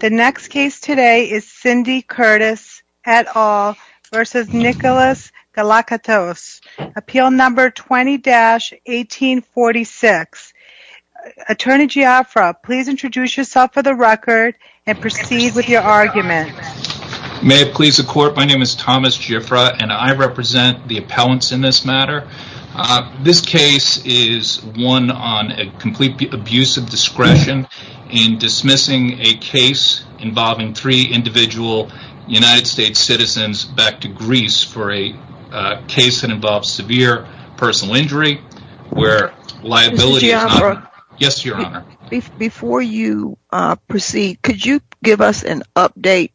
The next case today is Cindy Curtis et al. v. Nicholas Galakatos, appeal number 20-1846. Attorney Giafra, please introduce yourself for the record and proceed with your argument. May it please the court, my name is Thomas Giafra and I represent the appellants in this matter. This case is one on a complete abuse of discretion in dismissing a case involving three individual United States citizens back to Greece for a case that involves severe personal injury where liability is not... Before you proceed, could you give us an update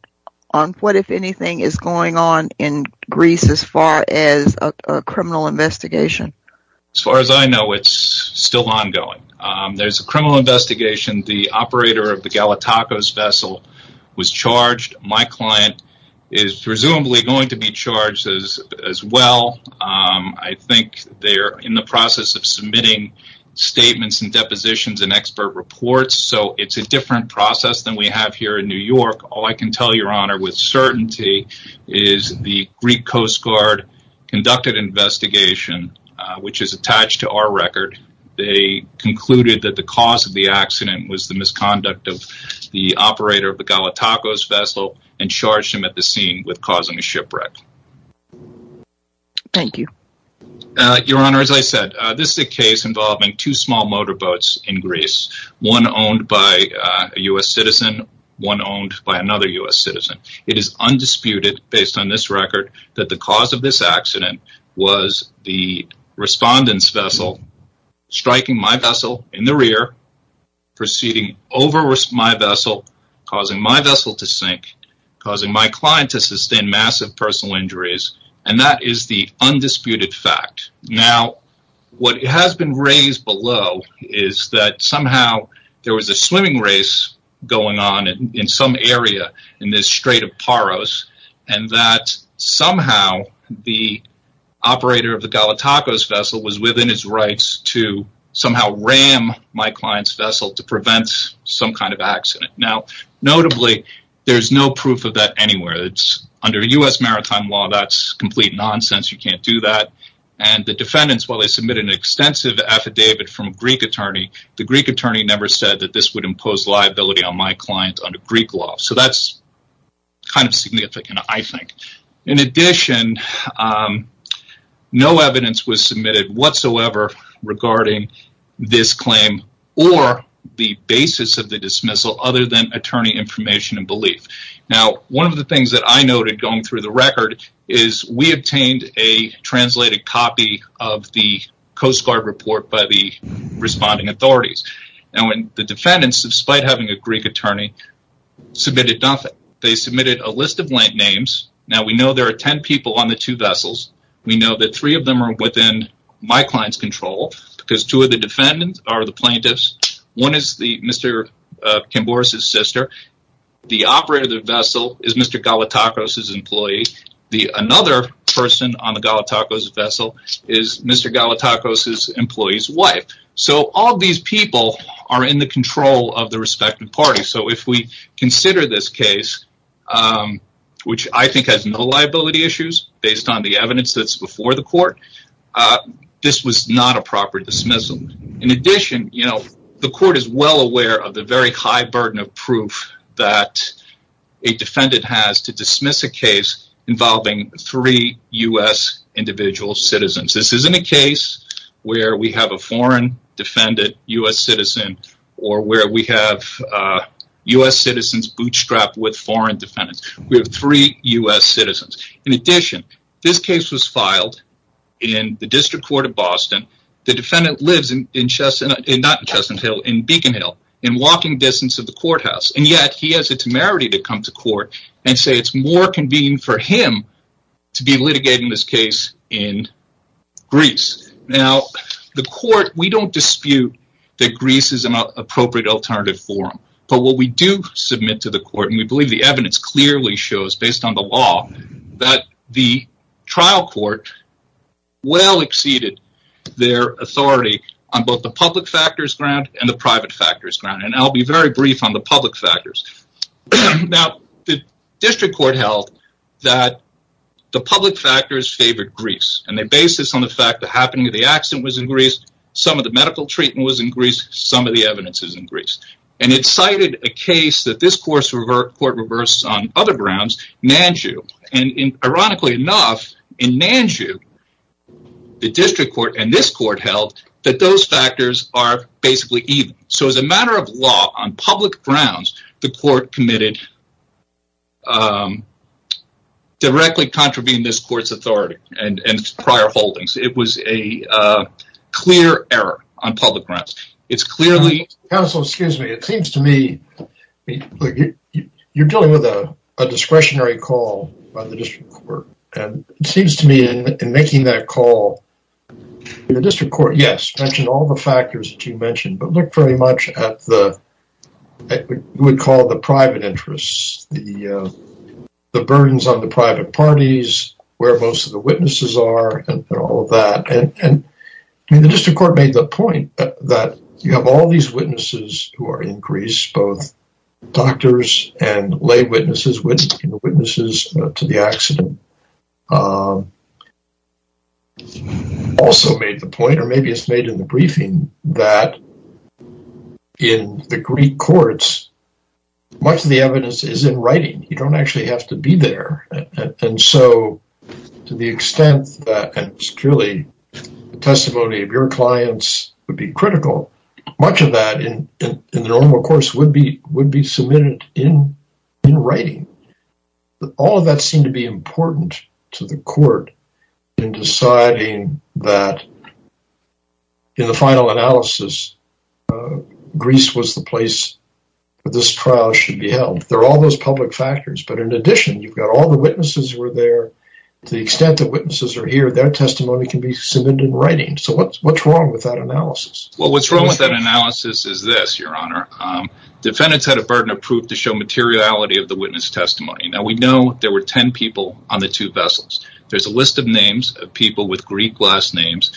on what, if anything, is going on in Greece as far as a criminal investigation? As far as I know, it's still ongoing. There's a criminal investigation. The operator of the Galakatos vessel was charged. My client is presumably going to be charged as well. I think they're in the process of submitting statements and depositions and expert reports, so it's a different process than we have here in New York. All I can tell you, Your Honor, with certainty, is the Greek Coast Guard conducted an investigation, which is attached to our record. They concluded that the cause of the accident was the misconduct of the operator of the Galakatos vessel and charged him at the scene with causing a shipwreck. Thank you. Your Honor, as I said, this is a case involving two small motorboats in Greece, one owned by a U.S. citizen, one owned by another U.S. citizen. It is undisputed, based on this record, that the cause of this accident was the respondent's vessel striking my vessel in the rear, proceeding over my vessel, causing my vessel to sink, causing my client to sustain massive personal injuries. That is the undisputed fact. Now, what has been raised below is that somehow there was a swimming race going on in some area in this Strait of Paros and that somehow the operator of the Galakatos vessel was within his rights to somehow ram my client's vessel to prevent some kind of accident. Now, notably, there's no proof of that anywhere. Under U.S. maritime law, that's complete nonsense. You can't do that. And the defendants, while they submitted an extensive affidavit from a Greek attorney, the Greek attorney never said that this would impose liability on my client under Greek law. So that's kind of significant, I think. In addition, no evidence was submitted whatsoever regarding this claim or the basis of the dismissal other than attorney information and belief. Now, one of the things that I noted going through the record is we obtained a translated copy of the Coast Guard report by the responding authorities. Now, the defendants, despite having a Greek attorney, submitted nothing. They submitted a list of blank names. Now, we know there are ten people on the two vessels. We know that three of them are within my client's control because two of the defendants are the plaintiffs. One is Mr. Kambouris' sister. The operator of the vessel is Mr. Galakatos' employee. Another person on the Galakatos vessel is Mr. Galakatos' employee's wife. So all these people are in the control of the respective parties. So if we consider this case, which I think has no liability issues based on the evidence that's before the court, this was not a proper dismissal. In addition, the court is well aware of the very high burden of proof that a defendant has to dismiss a case involving three U.S. individual citizens. This isn't a case where we have a foreign defendant, U.S. citizen, or where we have U.S. citizens bootstrapped with foreign defendants. We have three U.S. citizens. In addition, this case was filed in the District Court of Boston. The defendant lives in Beacon Hill, in walking distance of the courthouse, and yet he has the temerity to come to court and say it's more convenient for him to be litigating this case in Greece. We don't dispute that Greece is an appropriate alternative forum, but what we do submit to the court, and we believe the evidence clearly shows based on the law, that the trial court well exceeded their authority on both the public factors ground and the private factors ground. I'll be very brief on the public factors. The district court held that the public factors favored Greece, and they based this on the fact that the accident was in Greece, some of the medical treatment was in Greece, and some of the evidence is in Greece. It cited a case that this court reversed on other grounds, Nanju. Ironically enough, in Nanju, the district court and this court held that those factors are basically even. So as a matter of law, on public grounds, the court committed directly contravening this court's authority and prior holdings. It was a clear error on public grounds. It's clearly... Counsel, excuse me. It seems to me you're dealing with a discretionary call by the district court, and it seems to me in making that call, the district court, yes, mentioned all the factors that you mentioned, but looked very much at what you would call the private interests, the burdens on the private parties, where most of the witnesses are, and all of that. The district court made the point that you have all these witnesses who are in Greece, both doctors and lay witnesses, witnesses to the accident, also made the point, or maybe it's made in the briefing, that in the Greek courts, much of the evidence is in writing. You don't actually have to be there. To the extent that it's truly the testimony of your clients would be critical, much of that, in the normal course, would be submitted in writing. All of that seemed to be important to the court in deciding that, in the final analysis, Greece was the place where this trial should be held. There are all those public factors, but in addition, you've got all the witnesses were there. To the extent that witnesses are here, their testimony can be submitted in writing. So what's wrong with that analysis? Well, what's wrong with that analysis is this, Your Honor. Defendants had a burden of proof to show materiality of the witness testimony. Now, we know there were 10 people on the two vessels. There's a list of names of people with Greek last names.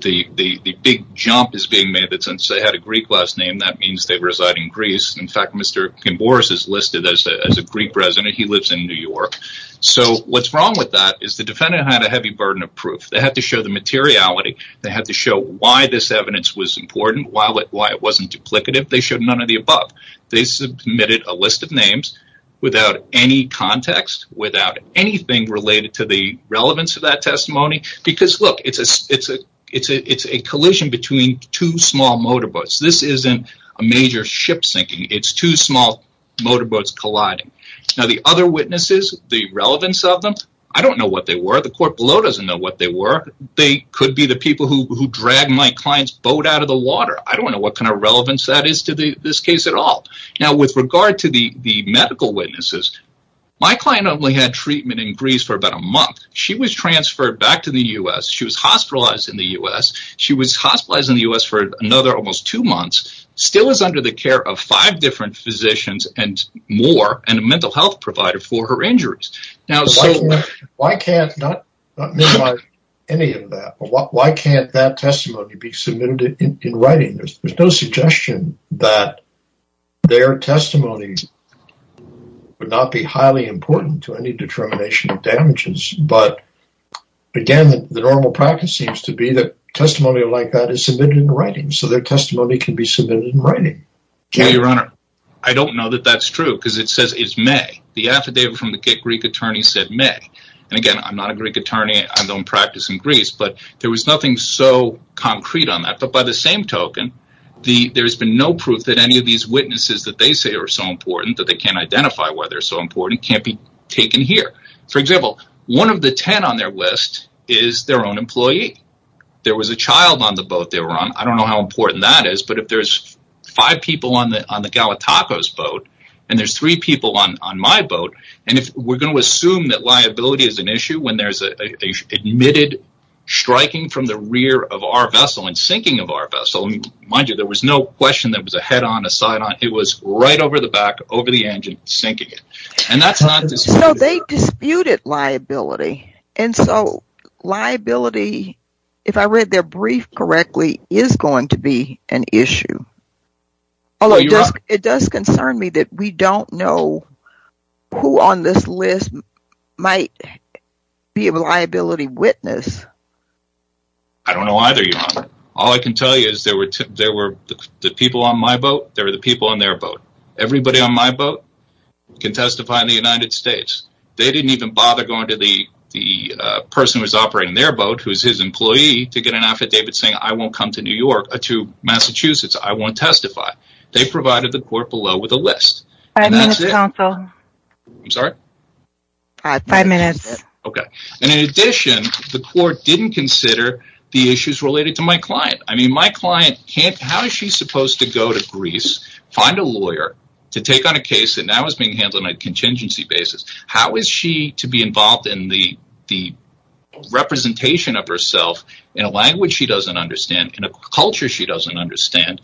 The big jump is being made that since they had a Greek last name, that means they reside in Greece. In fact, Mr. Gimboras is listed as a Greek resident. He lives in New York. So what's wrong with that is the defendant had a heavy burden of proof. They had to show the materiality. They had to show why this evidence was important, why it wasn't duplicative. They showed none of the above. They submitted a list of names without any context, without anything related to the relevance of that testimony. Because, look, it's a collision between two small motorboats. This isn't a major ship sinking. It's two small motorboats colliding. Now, the other witnesses, the relevance of them, I don't know what they were. The court below doesn't know what they were. They could be the people who dragged my client's boat out of the water. I don't know what kind of relevance that is to this case at all. Now, with regard to the medical witnesses, my client only had treatment in Greece for about a month. She was transferred back to the U.S. She was hospitalized in the U.S. She was hospitalized in the U.S. for another almost two months. Still is under the care of five different physicians and more and a mental health provider for her injuries. Now, why can't that testimony be submitted in writing? There's no suggestion that their testimony would not be highly important to any determination of damages. But, again, the normal practice seems to be that testimony like that is submitted in writing. So their testimony can be submitted in writing. Well, Your Honor, I don't know that that's true because it says it's May. The affidavit from the Greek attorney said May. And, again, I'm not a Greek attorney. I don't practice in Greece. But there was nothing so concrete on that. But by the same token, there's been no proof that any of these witnesses that they say are so important, that they can't identify why they're so important, can't be taken here. For example, one of the ten on their list is their own employee. There was a child on the boat they were on. I don't know how important that is. But if there's five people on the Galatacos boat and there's three people on my boat, and if we're going to assume that liability is an issue when there's an admitted striking from the rear of our vessel and sinking of our vessel, mind you, there was no question there was a head on, a side on. It was right over the back, over the engine, sinking it. So they disputed liability. And so liability, if I read their brief correctly, is going to be an issue. Although it does concern me that we don't know who on this list might be a liability witness. I don't know either, Your Honor. All I can tell you is there were the people on my boat, there were the people on their boat. Everybody on my boat can testify in the United States. They didn't even bother going to the person who was operating their boat, who was his employee, to get an affidavit saying, I won't come to Massachusetts, I won't testify. They provided the court below with a list. Five minutes, counsel. I'm sorry? Five minutes. Okay. And in addition, the court didn't consider the issues related to my client. How is she supposed to go to Greece, find a lawyer to take on a case that now is being handled on a contingency basis? How is she to be involved in the representation of herself in a language she doesn't understand, in a culture she doesn't understand,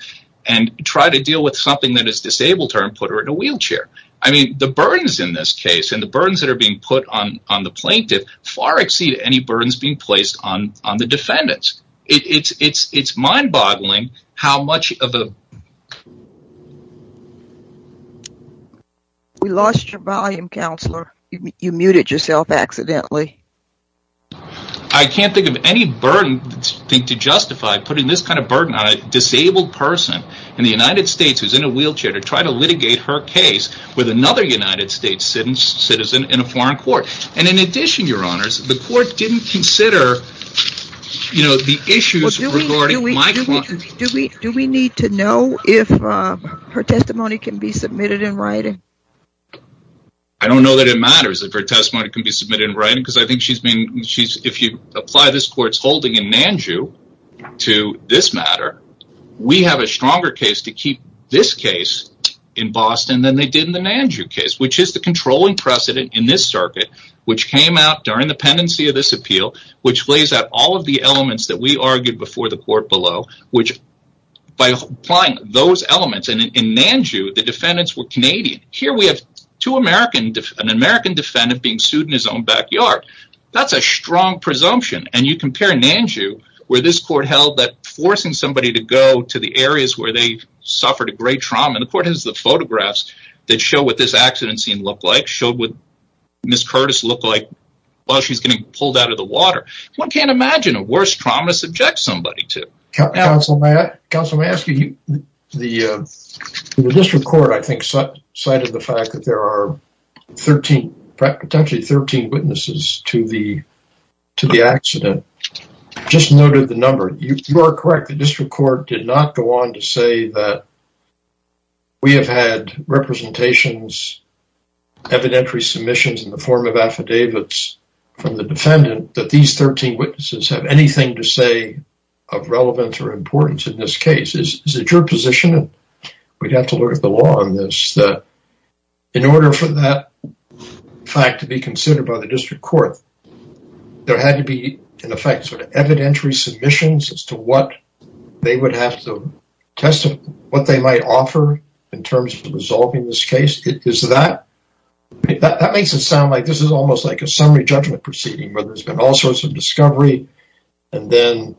and try to deal with something that has disabled her and put her in a wheelchair? The burdens in this case and the burdens that are being put on the plaintiff far exceed any burdens being placed on the defendants. It's mind-boggling how much of a ---- We lost your volume, Counselor. You muted yourself accidentally. I can't think of any burden to justify putting this kind of burden on a disabled person in the United States who is in a wheelchair to try to litigate her case with another United States citizen in a foreign court. And in addition, Your Honors, the court didn't consider, you know, the issues regarding my client. Do we need to know if her testimony can be submitted in writing? I don't know that it matters if her testimony can be submitted in writing because I think she's been, if you apply this court's holding in Nanju to this matter, we have a stronger case to keep this case in Boston than they did in the Nanju case, which is the controlling precedent in this circuit which came out during the pendency of this appeal, which lays out all of the elements that we argued before the court below, which by applying those elements in Nanju, the defendants were Canadian. Here we have an American defendant being sued in his own backyard. That's a strong presumption and you compare Nanju where this court held that forcing somebody to go to the areas where they suffered a great trauma, and the court has the photographs that show what this accident scene looked like, showed what Ms. Curtis looked like while she's getting pulled out of the water. One can't imagine a worse trauma subject somebody to. Counsel, may I ask you, the district court, I think, cited the fact that there are 13, potentially 13 witnesses to the accident. I just noted the number. You are correct. The district court did not go on to say that we have had representations, evidentiary submissions in the form of affidavits from the defendant, that these 13 witnesses have anything to say of relevance or importance in this case. Is it your position, and we'd have to look at the law on this, in order for that fact to be considered by the district court, there had to be, in effect, evidentiary submissions as to what they would have to testify, what they might offer in terms of resolving this case. That makes it sound like this is almost like a summary judgment proceeding where there's been all sorts of discovery, and then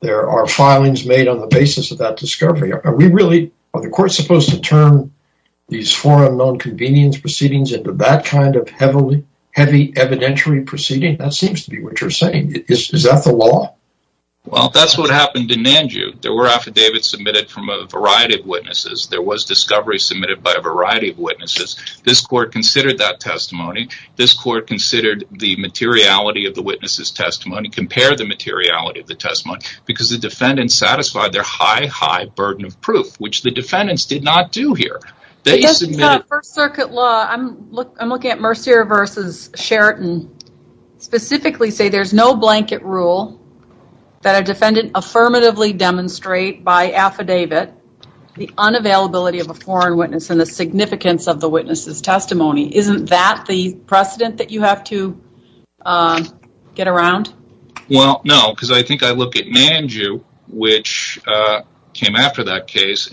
there are filings made on the basis of that discovery. Are the courts supposed to turn these four unknown convenience proceedings into that kind of heavy evidentiary proceeding? That seems to be what you're saying. Is that the law? Well, that's what happened in Nanju. There were affidavits submitted from a variety of witnesses. There was discovery submitted by a variety of witnesses. This court considered that testimony. This court considered the materiality of the witness's testimony, compared the materiality of the testimony, because the defendants satisfied their high, high burden of proof, which the defendants did not do here. First Circuit law, I'm looking at Mercier v. Sheraton, specifically say there's no blanket rule that a defendant affirmatively demonstrate by affidavit the unavailability of a foreign witness and the significance of the witness's testimony. Isn't that the precedent that you have to get around? Well, no, because I think I look at Nanju, which came after that case.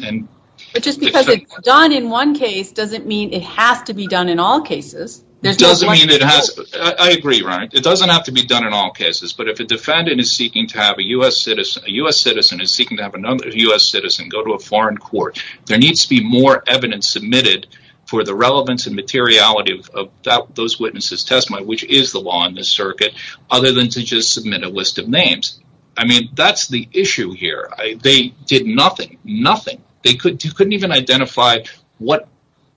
But just because it's done in one case doesn't mean it has to be done in all cases. I agree, right? It doesn't have to be done in all cases, but if a U.S. citizen is seeking to have another U.S. citizen go to a foreign court, there needs to be more evidence submitted for the relevance and materiality of those witnesses' testimony, which is the law in this circuit, other than to just submit a list of names. I mean, that's the issue here. They did nothing, nothing. They couldn't even identify what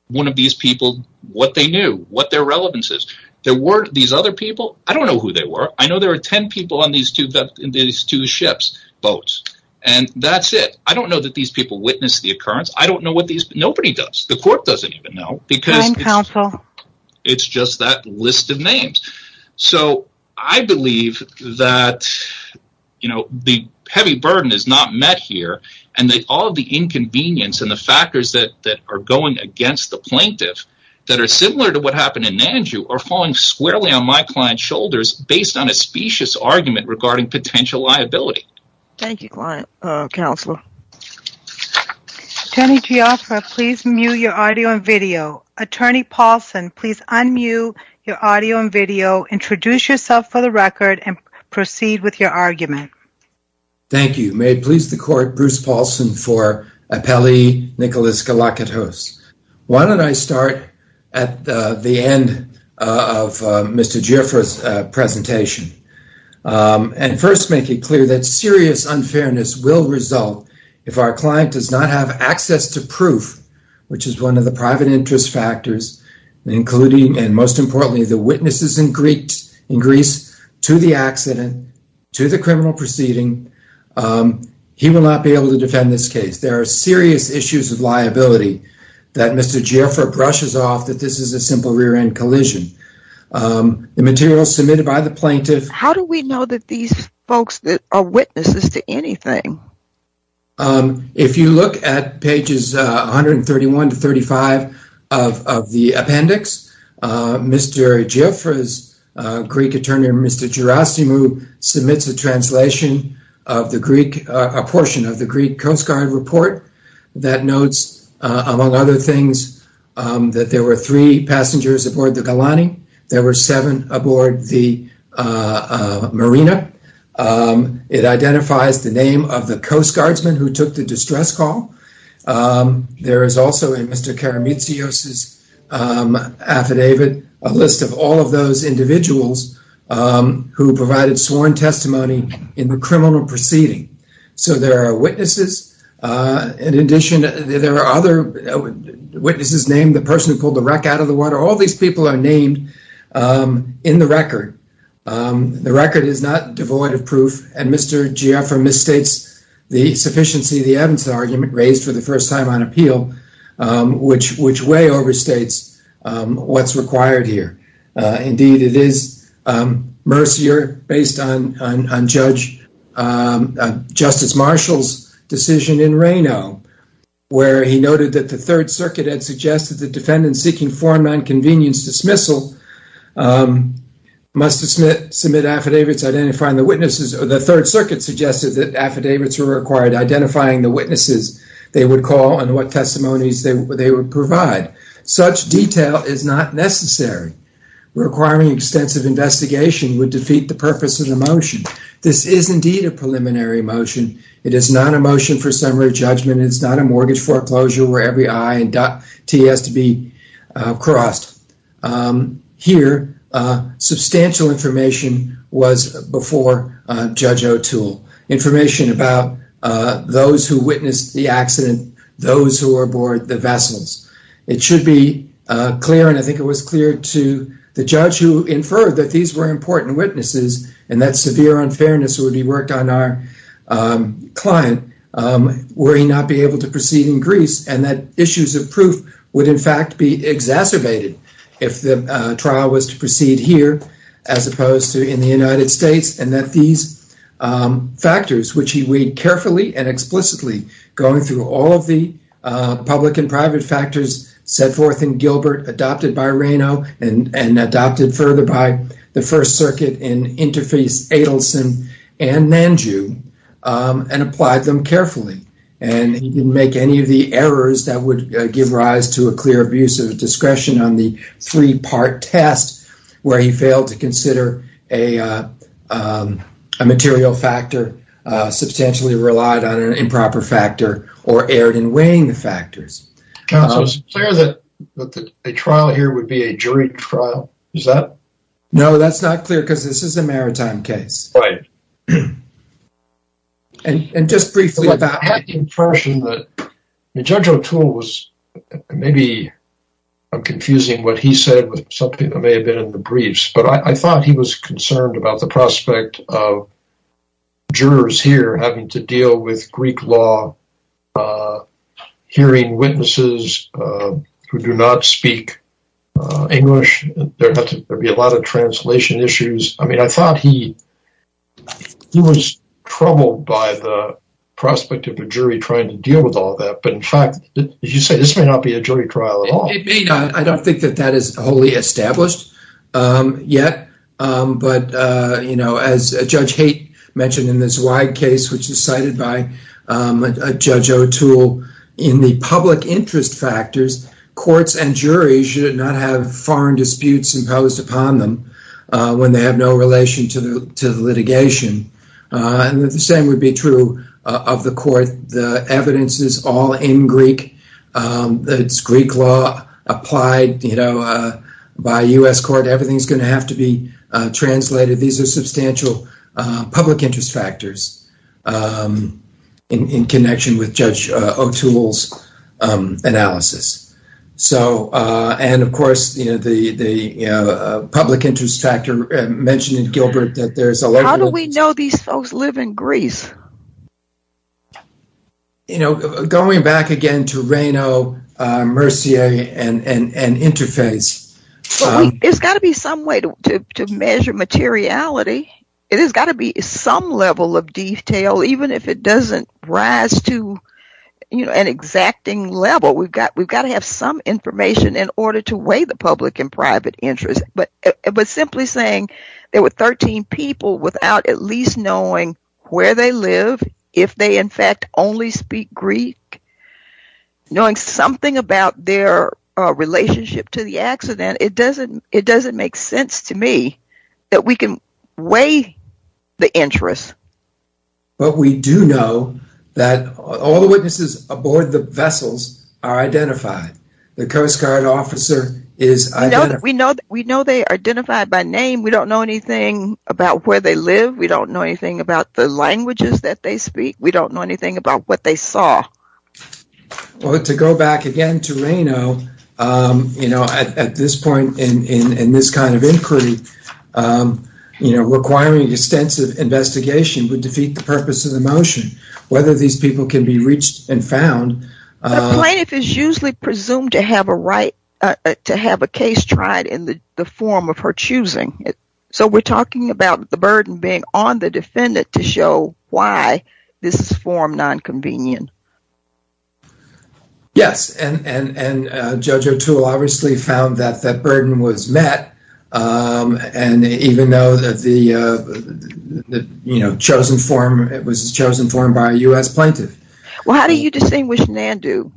one of these people, what they knew, what their relevance is. There were these other people. I don't know who they were. I know there were ten people on these two ships, boats, and that's it. I don't know that these people witnessed the occurrence. I don't know what these people, nobody does. The court doesn't even know because it's just that list of names. So, I believe that, you know, the heavy burden is not met here and that all of the inconvenience and the factors that are going against the plaintiff that are similar to what happened in Nanju are falling squarely on my client's shoulders based on a specious argument regarding potential liability. Thank you, Counselor. Attorney Gioffre, please mute your audio and video. Attorney Paulson, please unmute your audio and video, introduce yourself for the record, and proceed with your argument. Thank you. May it please the Court, Bruce Paulson for appelli Nicholas Galakadhos. Why don't I start at the end of Mr. Gioffre's presentation and first make it clear that serious unfairness will result if our client does not have access to proof, which is one of the private interest factors, including and most importantly the witnesses in Greece, to the accident, to the criminal proceeding. He will not be able to defend this case. There are serious issues of liability that Mr. Gioffre brushes off that this is a simple rear-end collision. The material submitted by the plaintiff… How do we know that these folks are witnesses to anything? If you look at pages 131 to 135 of the appendix, Mr. Gioffre's Greek attorney, Mr. Gerasimou, submits a translation of a portion of the Greek Coast Guard report that notes, among other things, that there were three passengers aboard the Galani, there were seven aboard the Marina. It identifies the name of the Coast Guardsman who took the distress call. There is also in Mr. Karamitsios' affidavit a list of all of those individuals who provided sworn testimony in the criminal proceeding. So there are witnesses. In addition, there are other witnesses named the person who pulled the wreck out of the water. All these people are named in the record. The record is not devoid of proof, and Mr. Gioffre misstates the sufficiency of the Evans argument raised for the first time on appeal, which way overstates what's required here. Indeed, it is mercier, based on Justice Marshall's decision in Reno, where he noted that the Third Circuit had suggested that defendants seeking foreign nonconvenience dismissal must submit affidavits identifying the witnesses. The Third Circuit suggested that affidavits were required identifying the witnesses they would call and what testimonies they would provide. Such detail is not necessary. Requiring extensive investigation would defeat the purpose of the motion. This is indeed a preliminary motion. It is not a motion for summary judgment. It is not a mortgage foreclosure where every I and dot T has to be crossed. Here, substantial information was before Judge O'Toole, information about those who witnessed the accident, those who were aboard the vessels. It should be clear, and I think it was clear to the judge who inferred that these were important witnesses and that severe unfairness would be worked on our client were he not be able to proceed in Greece and that issues of proof would, in fact, be exacerbated if the trial was to proceed here as opposed to in the United States and that these factors, which he weighed carefully and explicitly going through all of the public and private factors set forth in Gilbert adopted by Reno and adopted further by the First Circuit in Interface Adelson and Nanju and applied them carefully. And he didn't make any of the errors that would give rise to a clear abuse of discretion on the three-part test where he failed to consider a material factor or substantially relied on an improper factor or erred in weighing the factors. Counsel, is it clear that a trial here would be a jury trial? Is that... No, that's not clear because this is a maritime case. Right. And just briefly about... I have the impression that Judge O'Toole was... Maybe I'm confusing what he said with something that may have been in the briefs, but I thought he was concerned about the prospect of jurors here having to deal with Greek law, hearing witnesses who do not speak English. There'd be a lot of translation issues. I mean, I thought he was troubled by the prospect of a jury trying to deal with all that, but in fact, as you say, this may not be a jury trial at all. It may not. I don't think that that is wholly established yet, but, you know, as Judge Haight mentioned in this wide case, which is cited by Judge O'Toole, in the public interest factors, courts and juries should not have foreign disputes imposed upon them when they have no relation to the litigation. And the same would be true of the court. The evidence is all in Greek. It's Greek law applied, you know, by U.S. court. Everything's going to have to be translated. These are substantial public interest factors in connection with Judge O'Toole's analysis. So, and of course, you know, the public interest factor mentioned in Gilbert that there's a... How do we know these folks live in Greece? You know, going back again to Reynaud, Mercier, and Interface... It's got to be some way to measure materiality. It has got to be some level of detail, even if it doesn't rise to, you know, an exacting level. We've got to have some information in order to weigh the public and private interest. But simply saying there were 13 people without at least knowing where they live, if they, in fact, only speak Greek, knowing something about their relationship to the accident, it doesn't make sense to me that we can weigh the interest. But we do know that all the witnesses aboard the vessels are identified. The Coast Guard officer is identified. We know they are identified by name. We don't know anything about where they live. We don't know anything about the languages that they speak. We don't know anything about what they saw. Well, to go back again to Reynaud, you know, at this point in this kind of inquiry, requiring extensive investigation would defeat the purpose of the motion. Whether these people can be reached and found... The plaintiff is usually presumed to have a right to have a case tried in the form of her choosing. So we're talking about the burden being on the defendant to show why this is form nonconvenient. Yes, and Judge O'Toole obviously found that that burden was met, and even though it was a chosen form by a U.S. plaintiff. Well, how do you distinguish Nandu?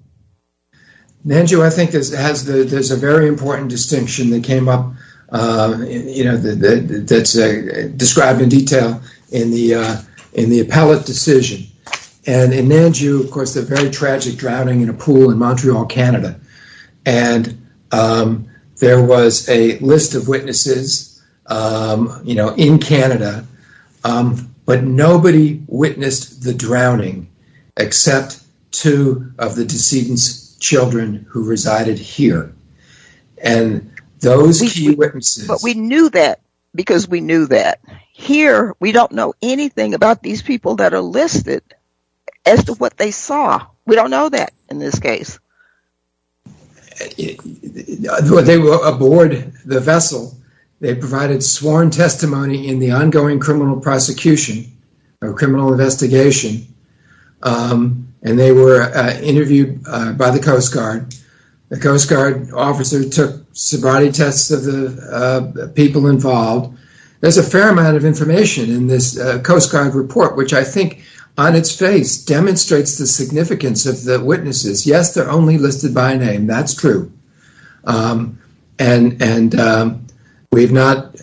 Nandu, I think there's a very important distinction that came up that's described in detail in the appellate decision. And in Nandu, of course, the very tragic drowning in a pool in Montreal, Canada. And there was a list of witnesses, you know, in Canada, but nobody witnessed the drowning except two of the decedent's children who resided here. And those key witnesses... But we knew that because we knew that. Here, we don't know anything about these people that are listed as to what they saw. We don't know that in this case. They were aboard the vessel. They provided sworn testimony in the ongoing criminal prosecution or criminal investigation, and they were interviewed by the Coast Guard. The Coast Guard officer took sobriety tests of the people involved. There's a fair amount of information in this Coast Guard report, which I think on its face demonstrates the significance of the witnesses. Yes, they're only listed by name. That's true. And we've not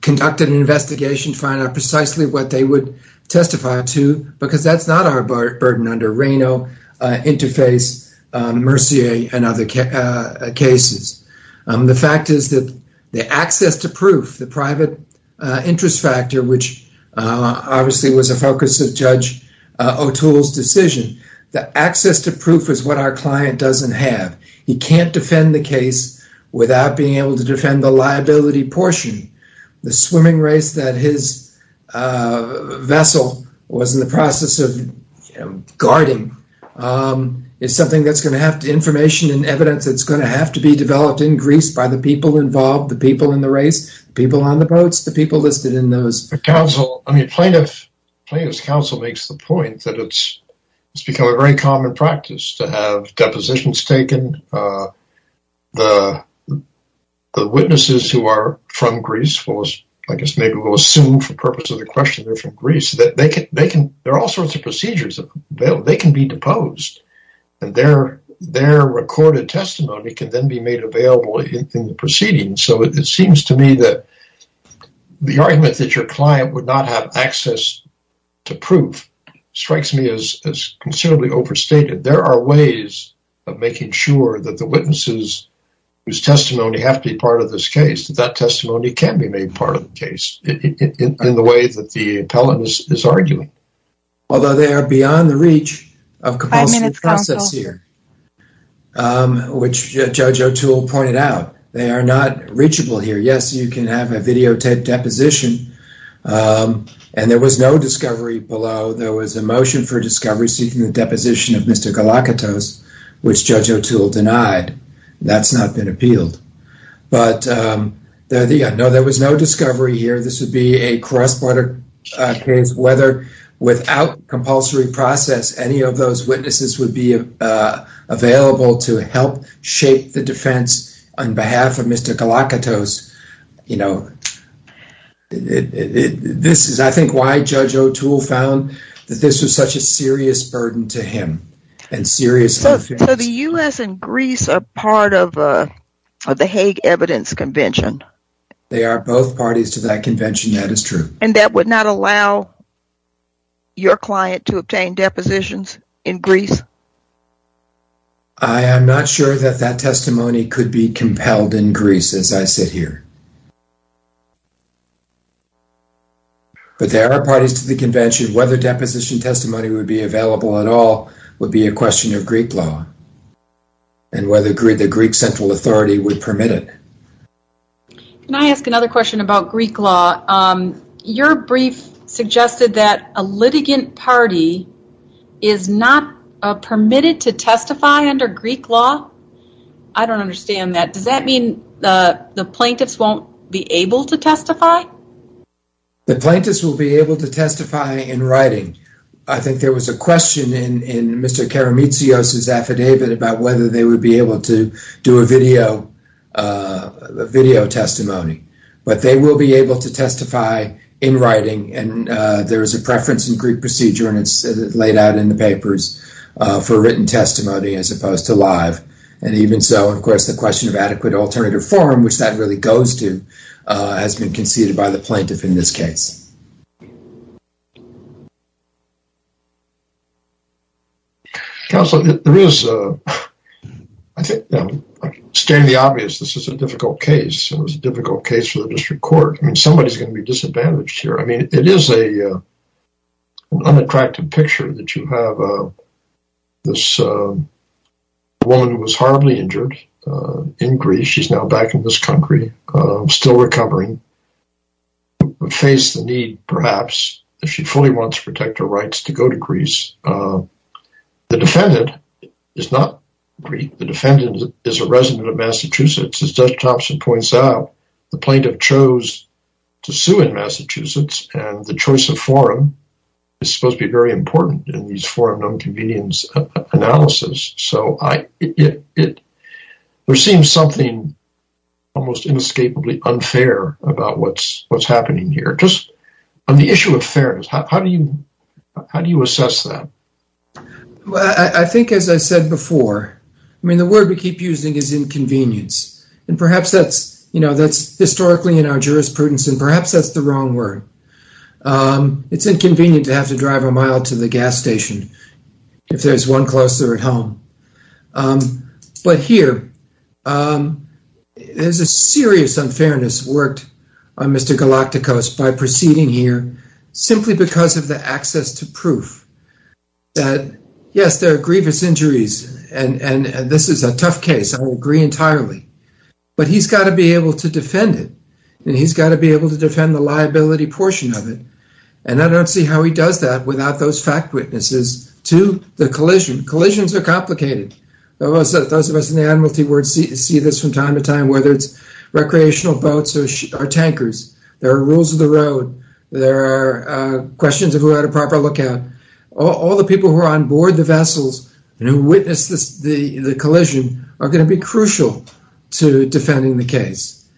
conducted an investigation to find out precisely what they would testify to because that's not our burden under Reno, Interface, Mercier, and other cases. The fact is that the access to proof, the private interest factor, which obviously was a focus of Judge O'Toole's decision, the access to proof is what our client doesn't have. He can't defend the case without being able to defend the liability portion. The swimming race that his vessel was in the process of guarding is something that's going to have information and evidence that's going to have to be developed in Greece by the people involved, the people in the race, the people on the boats, the people listed in those. The plaintiff's counsel makes the point that it's become a very common practice to have depositions taken. The witnesses who are from Greece, I guess maybe we'll assume for the purpose of the question that they're from Greece, that there are all sorts of procedures. They can be deposed, and their recorded testimony can then be made available in the proceedings. So it seems to me that the argument that your client would not have access to proof strikes me as considerably overstated. There are ways of making sure that the witnesses whose testimony have to be part of this case, that that testimony can be made part of the case in the way that the appellant is arguing. Although they are beyond the reach of compulsory process here, which Judge O'Toole pointed out. They are not reachable here. Yes, you can have a videotaped deposition, and there was no discovery below. There was a motion for discovery seeking the deposition of Mr. Galakatos, which Judge O'Toole denied. That's not been appealed. No, there was no discovery here. This would be a cross-border case, whether without compulsory process, any of those witnesses would be available to help shape the defense on behalf of Mr. Galakatos. This is, I think, why Judge O'Toole found that this was such a serious burden to him and serious offense. So the U.S. and Greece are part of the Hague Evidence Convention. They are both parties to that convention, that is true. And that would not allow your client to obtain depositions in Greece? I am not sure that that testimony could be compelled in Greece, as I sit here. But there are parties to the convention. Whether deposition testimony would be available at all would be a question of Greek law and whether the Greek central authority would permit it. Can I ask another question about Greek law? Your brief suggested that a litigant party is not permitted to testify under Greek law. I don't understand that. Does that mean the plaintiffs won't be able to testify? The plaintiffs will be able to testify in writing. I think there was a question in Mr. Karametsios' affidavit about whether they would be able to do a video testimony. But they will be able to testify in writing. And there is a preference in Greek procedure and it's laid out in the papers for written testimony as opposed to live. And even so, of course, the question of adequate alternative form, which that really goes to, has been conceded by the plaintiff in this case. Counsel, there is... I can stand the obvious. This is a difficult case. It was a difficult case for the district court. I mean, somebody is going to be disadvantaged here. I mean, it is an unattractive picture that you have this woman who was horribly injured in Greece. She's now back in this country, still recovering. Faced the need, perhaps, if she fully wants to protect her rights to go to Greece. The defendant is not Greek. The defendant is a resident of Massachusetts. As Judge Thompson points out, the plaintiff chose to sue in Massachusetts. And the choice of forum is supposed to be very important in these forum non-convenience analysis. There seems something almost inescapably unfair about what's happening here. Just on the issue of fairness, how do you assess that? Well, I think, as I said before, I mean, the word we keep using is inconvenience. And perhaps that's historically in our jurisprudence, and perhaps that's the wrong word. It's inconvenient to have to drive a mile to the gas station if there's one closer at home. But here, there's a serious unfairness worked on Mr. Galaktikos by proceeding here simply because of the access to proof that, yes, there are grievous injuries, and this is a tough case. I will agree entirely. But he's got to be able to defend it, and he's got to be able to defend the liability portion of it. And I don't see how he does that without those fact witnesses to the collision. Collisions are complicated. Those of us in the Admiralty see this from time to time, whether it's recreational boats or tankers. There are rules of the road. There are questions of who had a proper lookout. All the people who are on board the vessels and who witnessed the collision are going to be crucial to defending the case.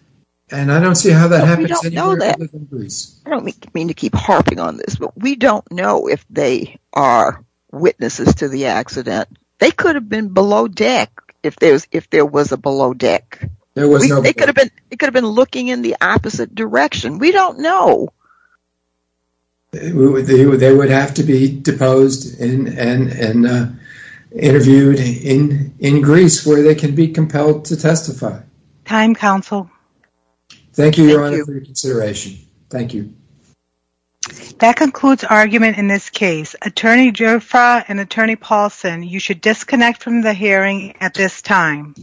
And I don't see how that happens anywhere other than Greece. I don't mean to keep harping on this, but we don't know if they are witnesses to the accident. They could have been below deck if there was a below deck. It could have been looking in the opposite direction. We don't know. They would have to be deposed and interviewed in Greece where they can be compelled to testify. Time, counsel. Thank you, Your Honor, for your consideration. Thank you. That concludes argument in this case. Attorney Giuffra and Attorney Paulson, you should disconnect from the hearing at this time.